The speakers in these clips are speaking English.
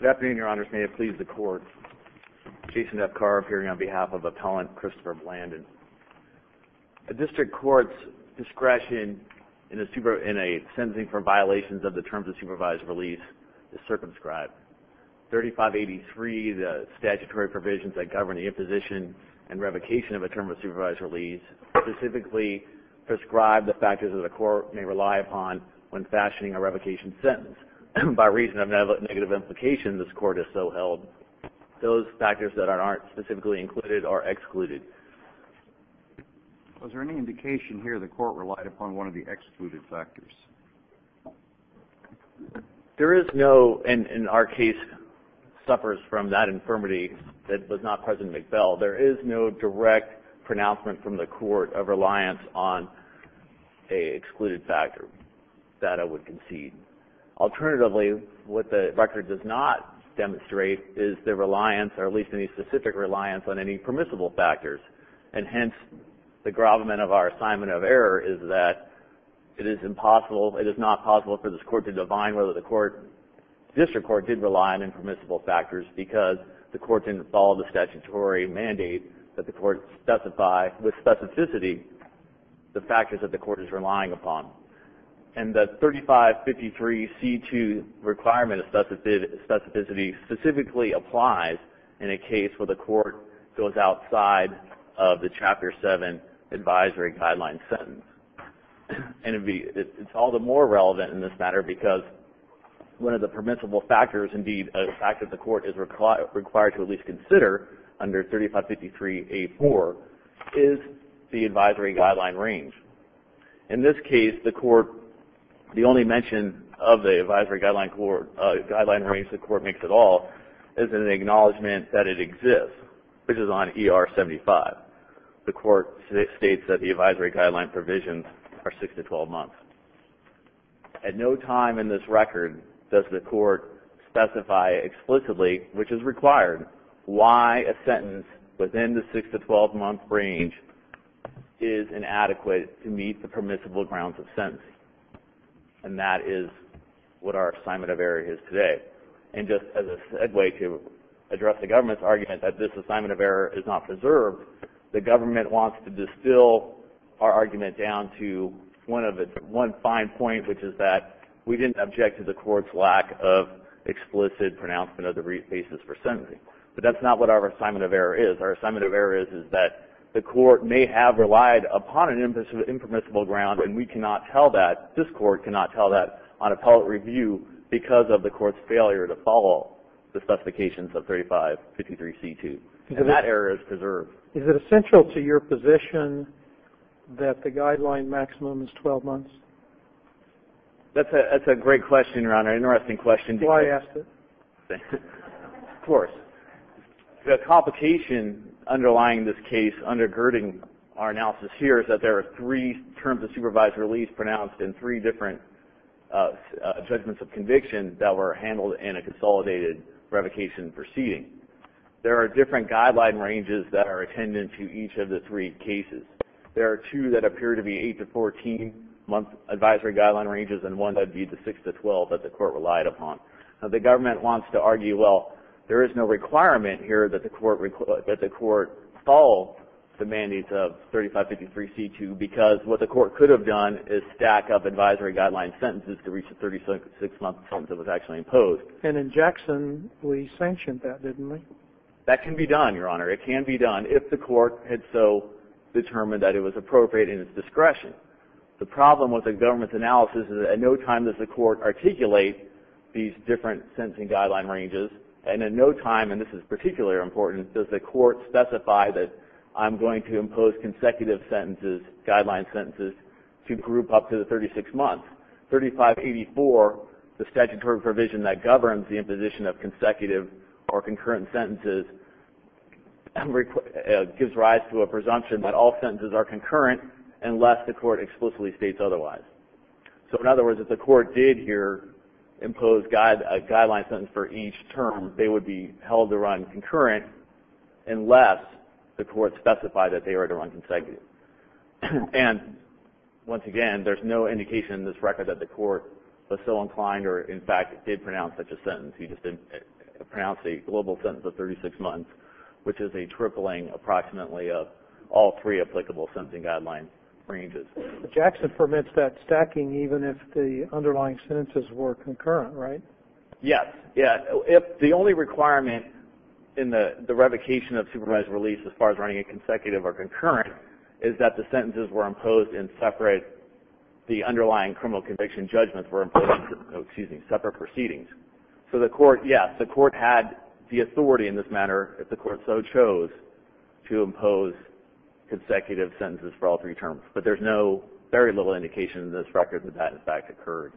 Good afternoon, Your Honors. May it please the Court, Jason F. Carr appearing on behalf of Appellant Christopher Blandon. A district court's discretion in a sentencing for violations of the terms of supervised release is circumscribed. 3583, the statutory provisions that govern the imposition and revocation of a term of supervised release, specifically prescribe the factors that a court may rely upon when fashioning a revocation sentence by reason of negative implication this Court has so held. Those factors that aren't specifically included are excluded. Was there any indication here the Court relied upon one of the excluded factors? There is no, and our case suffers from that infirmity that was not present in McBell, there is no direct pronouncement from the Court of reliance on an excluded factor that I would concede. Alternatively, what the record does not demonstrate is the reliance, or at least any specific reliance on any permissible factors. And hence, the gravamen of our assignment of error is that it is impossible, it is not possible for this Court to divine whether the District Court did rely on any permissible factors because the Court didn't follow the statutory mandate that the Court specify with specificity the factors that the Court is relying upon. And the 3553C2 requirement of specificity specifically applies in a case where the Court goes outside of the Chapter 7 advisory guideline sentence. And it's all the more relevant in this matter because one of the permissible factors, indeed a factor the Court is required to at least consider under 3553A4 is the advisory guideline range. In this case, the Court, the only mention of the advisory guideline range the Court makes at all is an acknowledgement that it exists, which is on ER 75. The Court states that the advisory guideline provisions are 6 to 12 months. At no time in this record does the Court specify explicitly, which is required, why a sentence within the 6 to 12 month range is inadequate to meet the permissible grounds of sentencing. And that is what our assignment of error is today. And just as a segue to address the government's argument that this assignment of error is not preserved, the government wants to distill our argument down to one fine point, which is that we didn't object to the Court's lack of explicit pronouncement of the brief basis for sentencing. But that's not what our assignment of error is. Our assignment of error is that the Court may have relied upon an impermissible ground, and we cannot tell that, this Court cannot tell that on appellate review because of the Court's failure to follow the specifications of 3553C2. And that error is preserved. Is it essential to your position that the guideline maximum is 12 months? That's a great question, Your Honor, an interesting question. Do I ask it? Of course. The complication underlying this case, undergirding our analysis here, is that there are three terms of supervised release pronounced and three different judgments of conviction that were handled in a consolidated revocation proceeding. There are different guideline ranges that are attendant to each of the three cases. There are two that appear to be eight to 14-month advisory guideline ranges and one that would be the six to 12 that the Court relied upon. The government wants to argue, well, there is no requirement here that the Court follow the mandates of 3553C2 because what the Court could have done is stack up advisory guideline sentences to reach the 36-month sentence that was actually imposed. And in Jackson, we sanctioned that, didn't we? That can be done, Your Honor. It can be done if the Court had so determined that it was appropriate in its discretion. The problem with the government's analysis is that at no time does the Court articulate these different sentencing guideline ranges, and in no time, and this is particularly important, does the Court specify that I'm going to impose consecutive sentences, guideline sentences, to group up to the 36 months. 3584, the statutory provision that governs the imposition of consecutive or concurrent sentences, gives rise to a presumption that all sentences are concurrent unless the Court explicitly states otherwise. So, in other words, if the Court did here impose a guideline sentence for each term, they would be held to run concurrent unless the Court specified that they were to run consecutive. And, once again, there's no indication in this record that the Court was so inclined or, in fact, did pronounce such a sentence. He just did pronounce a global sentence of 36 months, which is a tripling approximately of all three applicable sentencing guideline ranges. Jackson permits that stacking even if the underlying sentences were concurrent, right? Yes. The only requirement in the revocation of supervised release as far as running a consecutive or concurrent is that the sentences were imposed in separate, the underlying criminal conviction judgments were imposed in separate proceedings. So, yes, the Court had the authority in this matter, if the Court so chose, to impose consecutive sentences for all three terms, but there's very little indication in this record that that, in fact, occurred.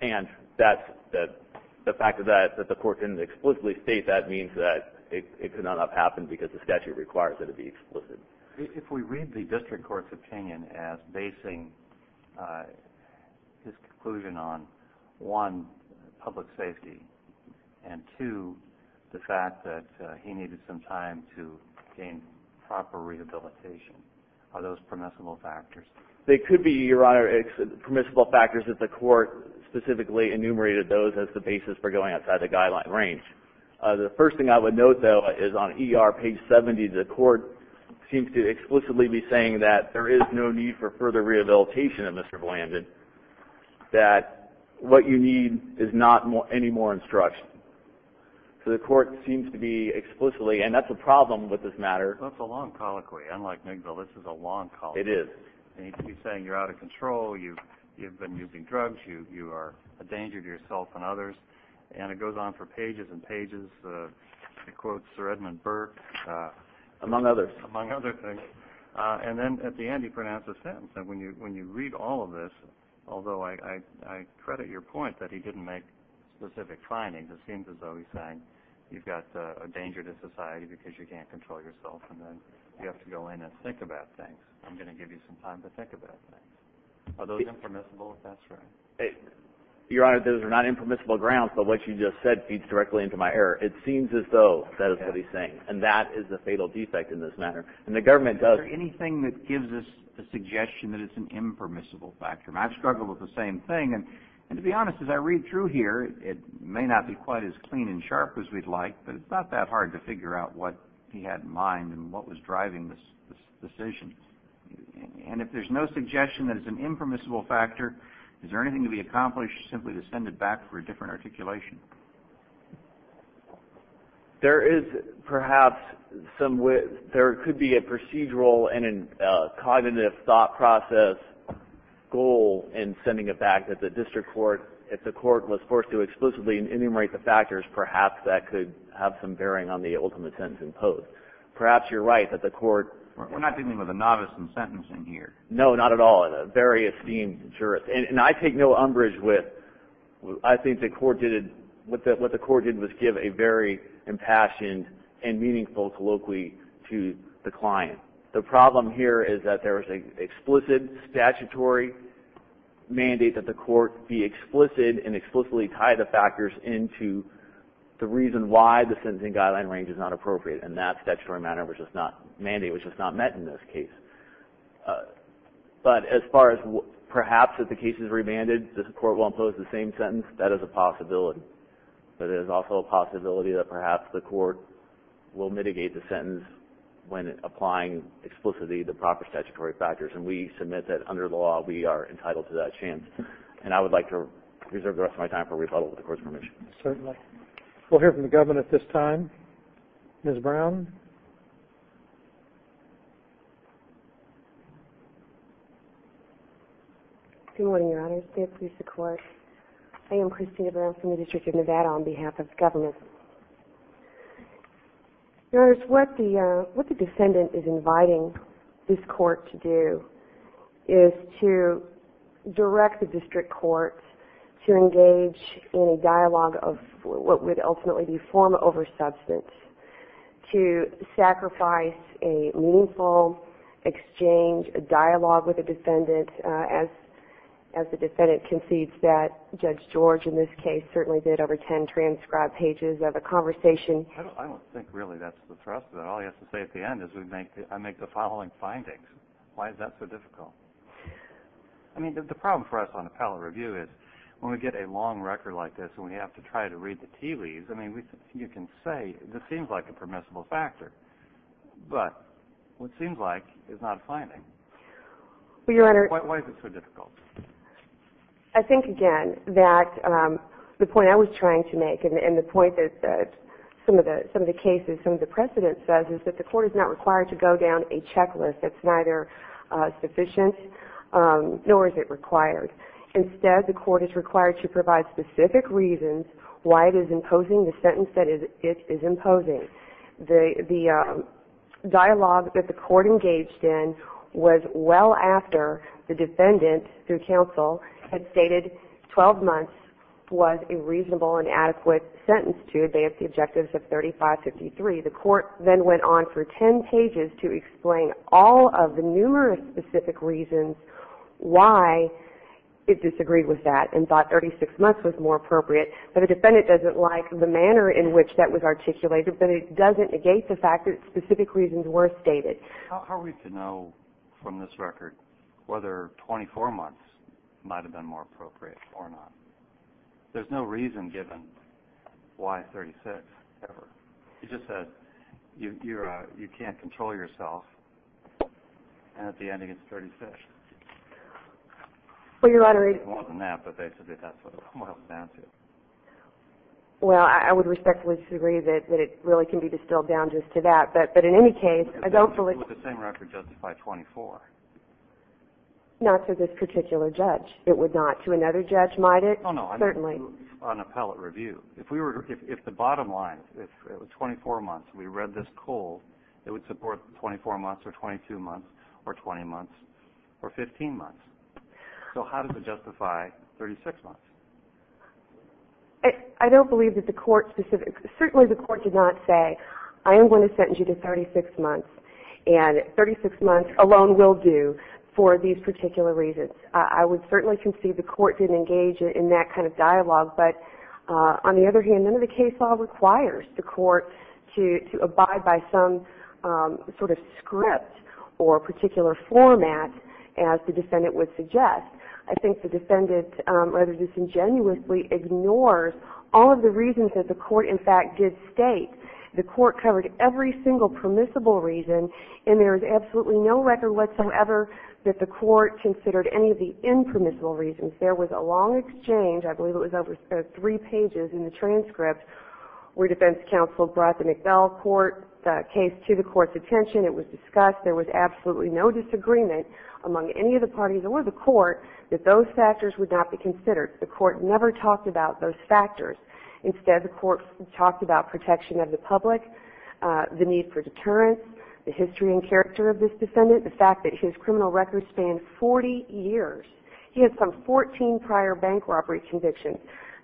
And the fact that the Court didn't explicitly state that means that it could not have happened because the statute requires that it be explicit. If we read the District Court's opinion as basing this conclusion on, one, public safety, and, two, the fact that he needed some time to gain proper rehabilitation, are those permissible factors? They could be, Your Honor, permissible factors if the Court specifically enumerated those as the basis for going outside the guideline range. The first thing I would note, though, is on ER page 70, the Court seems to explicitly be saying that there is no need for further rehabilitation of Mr. Blandon, that what you need is not any more instruction. So the Court seems to be explicitly, and that's a problem with this matter. That's a long colloquy. Unlike NGVILLE, this is a long colloquy. It is. And he keeps saying you're out of control, you've been using drugs, you are a danger to yourself and others. And it goes on for pages and pages. It quotes Sir Edmund Burke. Among others. Among other things. And then at the end he pronounced a sentence. And when you read all of this, although I credit your point that he didn't make specific findings, it seems as though he's saying you've got a danger to society because you can't control yourself and then you have to go in and think about things. I'm going to give you some time to think about things. Are those impermissible, if that's right? Your Honor, those are not impermissible grounds, but what you just said feeds directly into my error. It seems as though that is what he's saying. And that is a fatal defect in this matter. And the government does. Is there anything that gives us the suggestion that it's an impermissible factor? I've struggled with the same thing. And to be honest, as I read through here, it may not be quite as clean and sharp as we'd like, but it's not that hard to figure out what he had in mind and what was driving this decision. And if there's no suggestion that it's an impermissible factor, is there anything to be accomplished simply to send it back for a different articulation? There is perhaps some way. There could be a procedural and a cognitive thought process goal in sending it back that the district court, if the court was forced to explicitly enumerate the factors, perhaps that could have some bearing on the ultimate sentence imposed. Perhaps you're right that the court – We're not dealing with a novice in sentencing here. No, not at all. A very esteemed jurist. And I take no umbrage with – I think the court did – what the court did was give a very impassioned and meaningful colloquy to the client. The problem here is that there is an explicit statutory mandate that the court be explicit and explicitly tie the factors into the reason why the sentencing guideline range is not appropriate. And that statutory mandate was just not met in this case. But as far as perhaps if the case is remanded, the court will impose the same sentence, that is a possibility. But it is also a possibility that perhaps the court will mitigate the sentence when applying explicitly the proper statutory factors. And we submit that under the law we are entitled to that chance. And I would like to reserve the rest of my time for rebuttal with the court's permission. Certainly. We'll hear from the government at this time. Ms. Brown? Good morning, Your Honors. I am Christina Brown from the District of Nevada on behalf of the government. Your Honors, what the defendant is inviting this court to do is to direct the district court to engage in a dialogue of what would ultimately be form over substance, to sacrifice a meaningful exchange, a dialogue with the defendant as the defendant concedes that Judge George in this case certainly did over ten transcribed pages of a conversation. I don't think really that's the thrust of it. All he has to say at the end is I make the following findings. Why is that so difficult? I mean, the problem for us on appellate review is when we get a long record like this and we have to try to read the tea leaves, I mean, you can say this seems like a permissible factor. But what seems like is not a finding. Why is it so difficult? I think, again, that the point I was trying to make and the point that some of the cases, some of the precedent says is that the court is not required to go down a checklist that's neither sufficient nor is it required. Instead, the court is required to provide specific reasons why it is imposing the sentence that it is imposing. The dialogue that the court engaged in was well after the defendant, through counsel, had stated 12 months was a reasonable and adequate sentence to advance the objectives of 3553. The court then went on for ten pages to explain all of the numerous specific reasons why it disagreed with that and thought 36 months was more appropriate. But the defendant doesn't like the manner in which that was articulated, but it doesn't negate the fact that specific reasons were stated. How are we to know from this record whether 24 months might have been more appropriate or not? There's no reason given why 36 ever. You just said you can't control yourself and at the end it gets 36. Well, I would respectfully disagree that it really can be distilled down just to that. But in any case, I don't believe... It would be the same record justified 24. Not to this particular judge. It would not to another judge, might it? No, no, on appellate review. If the bottom line, if it was 24 months and we read this cold, it would support 24 months or 22 months or 20 months or 15 months. So how does it justify 36 months? I don't believe that the court specifically... Certainly the court did not say, I am going to sentence you to 36 months, and 36 months alone will do for these particular reasons. I would certainly concede the court didn't engage in that kind of dialogue, but on the other hand, none of the case law requires the court to abide by some sort of script or particular format as the defendant would suggest. I think the defendant rather disingenuously ignores all of the reasons that the court in fact did state. The court covered every single permissible reason and there is absolutely no record whatsoever that the court considered any of the impermissible reasons. There was a long exchange, I believe it was over three pages in the transcript, where defense counsel brought the McDowell court case to the court's attention. It was discussed. There was absolutely no disagreement among any of the parties or the court that those factors would not be considered. The court never talked about those factors. Instead, the court talked about protection of the public, the need for deterrence, the history and character of this defendant, the fact that his criminal record spanned 40 years. He had some 14 prior bank robbery convictions.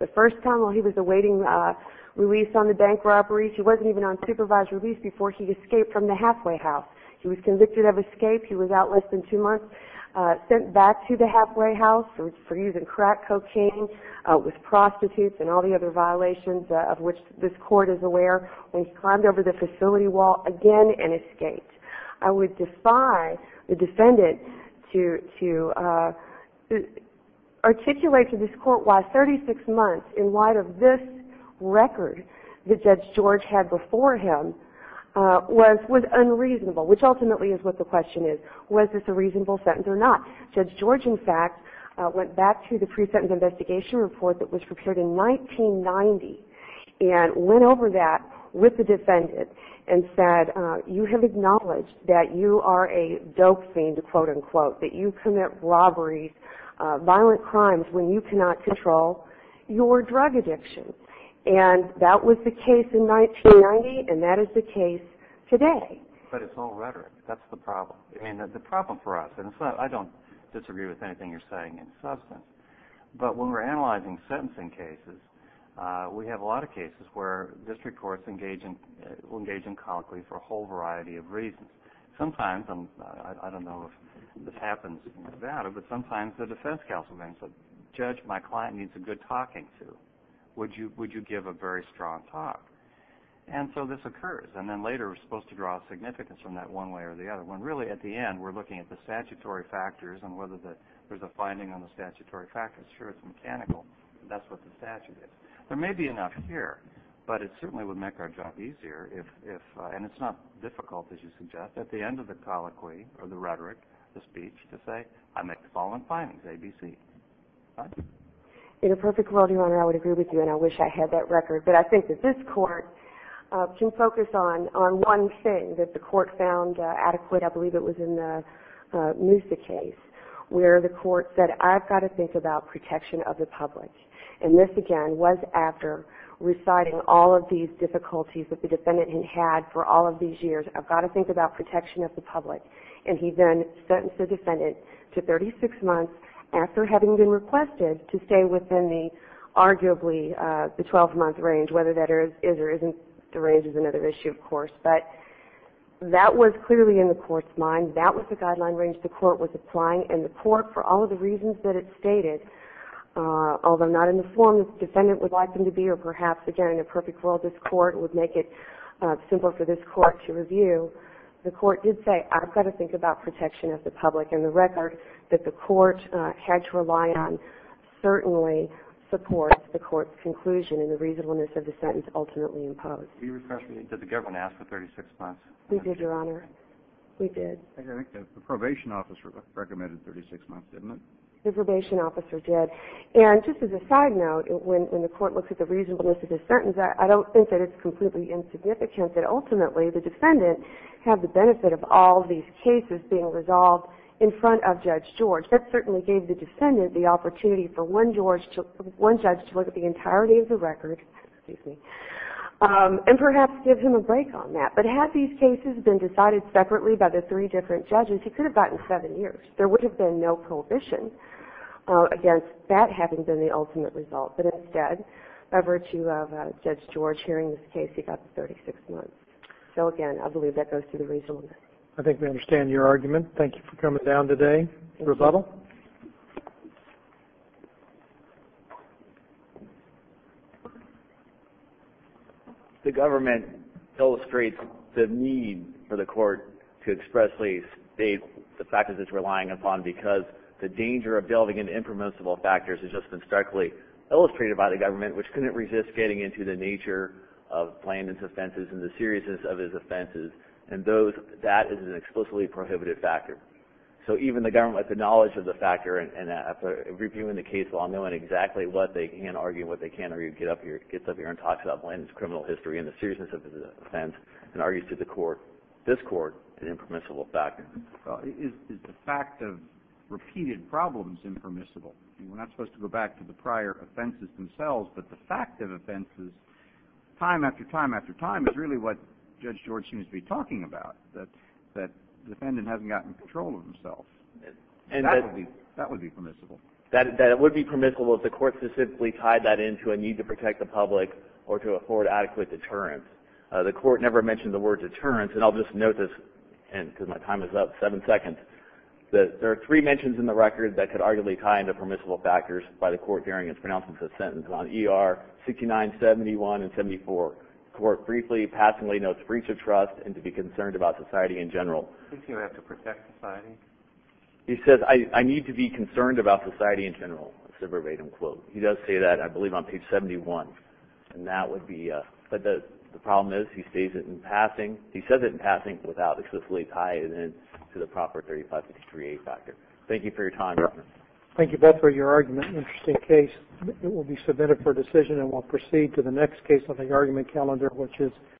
The first time while he was awaiting release on the bank robbery, he wasn't even on supervised release before he escaped from the halfway house. He was convicted of escape. He was out less than two months, sent back to the halfway house for using crack cocaine with prostitutes and all the other violations of which this court is aware. When he climbed over the facility wall again and escaped. I would defy the defendant to articulate to this court why 36 months in light of this record that Judge George had before him was unreasonable, which ultimately is what the question is. Was this a reasonable sentence or not? Judge George, in fact, went back to the pre-sentence investigation report that was prepared in 1990 and went over that with the defendant and said, you have acknowledged that you are a dope fiend, to quote unquote, that you commit robberies, violent crimes when you cannot control your drug addiction. And that was the case in 1990 and that is the case today. But it's all rhetoric. That's the problem. And the problem for us, and I don't disagree with anything you're saying in substance, but when we're analyzing sentencing cases, we have a lot of cases where district courts engage in colloquy for a whole variety of reasons. Sometimes, and I don't know if this happens in Nevada, but sometimes the defense counsel thinks, Judge, my client needs a good talking to. Would you give a very strong talk? And so this occurs. And then later we're supposed to draw significance from that one way or the other. When really at the end we're looking at the statutory factors and whether there's a finding on the statutory factors, sure, it's mechanical. That's what the statute is. There may be enough here, but it certainly would make our job easier if, and it's not difficult, as you suggest, at the end of the colloquy or the rhetoric, the speech, to say I make the following findings, A, B, C. In a perfect world, Your Honor, I would agree with you, and I wish I had that record. But I think that this court can focus on one thing that the court found adequate. I believe it was in the Musa case where the court said, I've got to think about protection of the public. And this, again, was after reciting all of these difficulties that the defendant had had for all of these years. I've got to think about protection of the public. And he then sentenced the defendant to 36 months after having been requested to stay within the, arguably, the 12-month range, whether that is or isn't the range is another issue, of course. But that was clearly in the court's mind. That was the guideline range the court was applying. And the court, for all of the reasons that it stated, although not in the form the defendant would like them to be or perhaps, again, in a perfect world, this court would make it simple for this court to review, the court did say, I've got to think about protection of the public. And the record that the court had to rely on certainly supports the court's conclusion and the reasonableness of the sentence ultimately imposed. Did the government ask for 36 months? We did, Your Honor. We did. The probation officer recommended 36 months, didn't it? The probation officer did. And just as a side note, when the court looks at the reasonableness of the sentence, I don't think that it's completely insignificant that ultimately the defendant had the benefit of all these cases being resolved in front of Judge George. That certainly gave the defendant the opportunity for one judge to look at the entirety of the record. And perhaps give him a break on that. But had these cases been decided separately by the three different judges, he could have gotten seven years. There would have been no prohibition against that having been the ultimate result. But instead, by virtue of Judge George hearing this case, he got the 36 months. So, again, I believe that goes to the reasonableness. I think we understand your argument. Thank you for coming down today. Rebuttal? The government illustrates the need for the court to expressly state the factors it's relying upon because the danger of delving into impermissible factors has just been starkly illustrated by the government, which couldn't resist getting into the nature of Blandon's offenses and the seriousness of his offenses. And that is an explicitly prohibited factor. So even the government, with the knowledge of the factor and reviewing the case law, knowing exactly what they can argue and what they can't argue, gets up here and talks about Blandon's criminal history and the seriousness of his offense and argues to the court, this court, an impermissible factor. Is the fact of repeated problems impermissible? We're not supposed to go back to the prior offenses themselves, but the fact of offenses time after time after time is really what Judge George seems to be talking about, that the defendant hasn't gotten control of himself. That would be permissible. That it would be permissible if the court specifically tied that into a need to protect the public or to afford adequate deterrence. The court never mentioned the word deterrence, and I'll just note this because my time is up, seven seconds. There are three mentions in the record that could arguably tie into permissible factors by the court during its pronouncement of the sentence on ER 69, 71, and 74. The court briefly, passingly notes breach of trust and to be concerned about society in general. Do you think you have to protect society? He says, I need to be concerned about society in general. He does say that, I believe, on page 71. But the problem is he states it in passing. He says it in passing without explicitly tying it in to the proper 3553A factor. Thank you for your time. Thank you both for your argument. Interesting case. It will be submitted for decision, and we'll proceed to the next case on the argument calendar, which is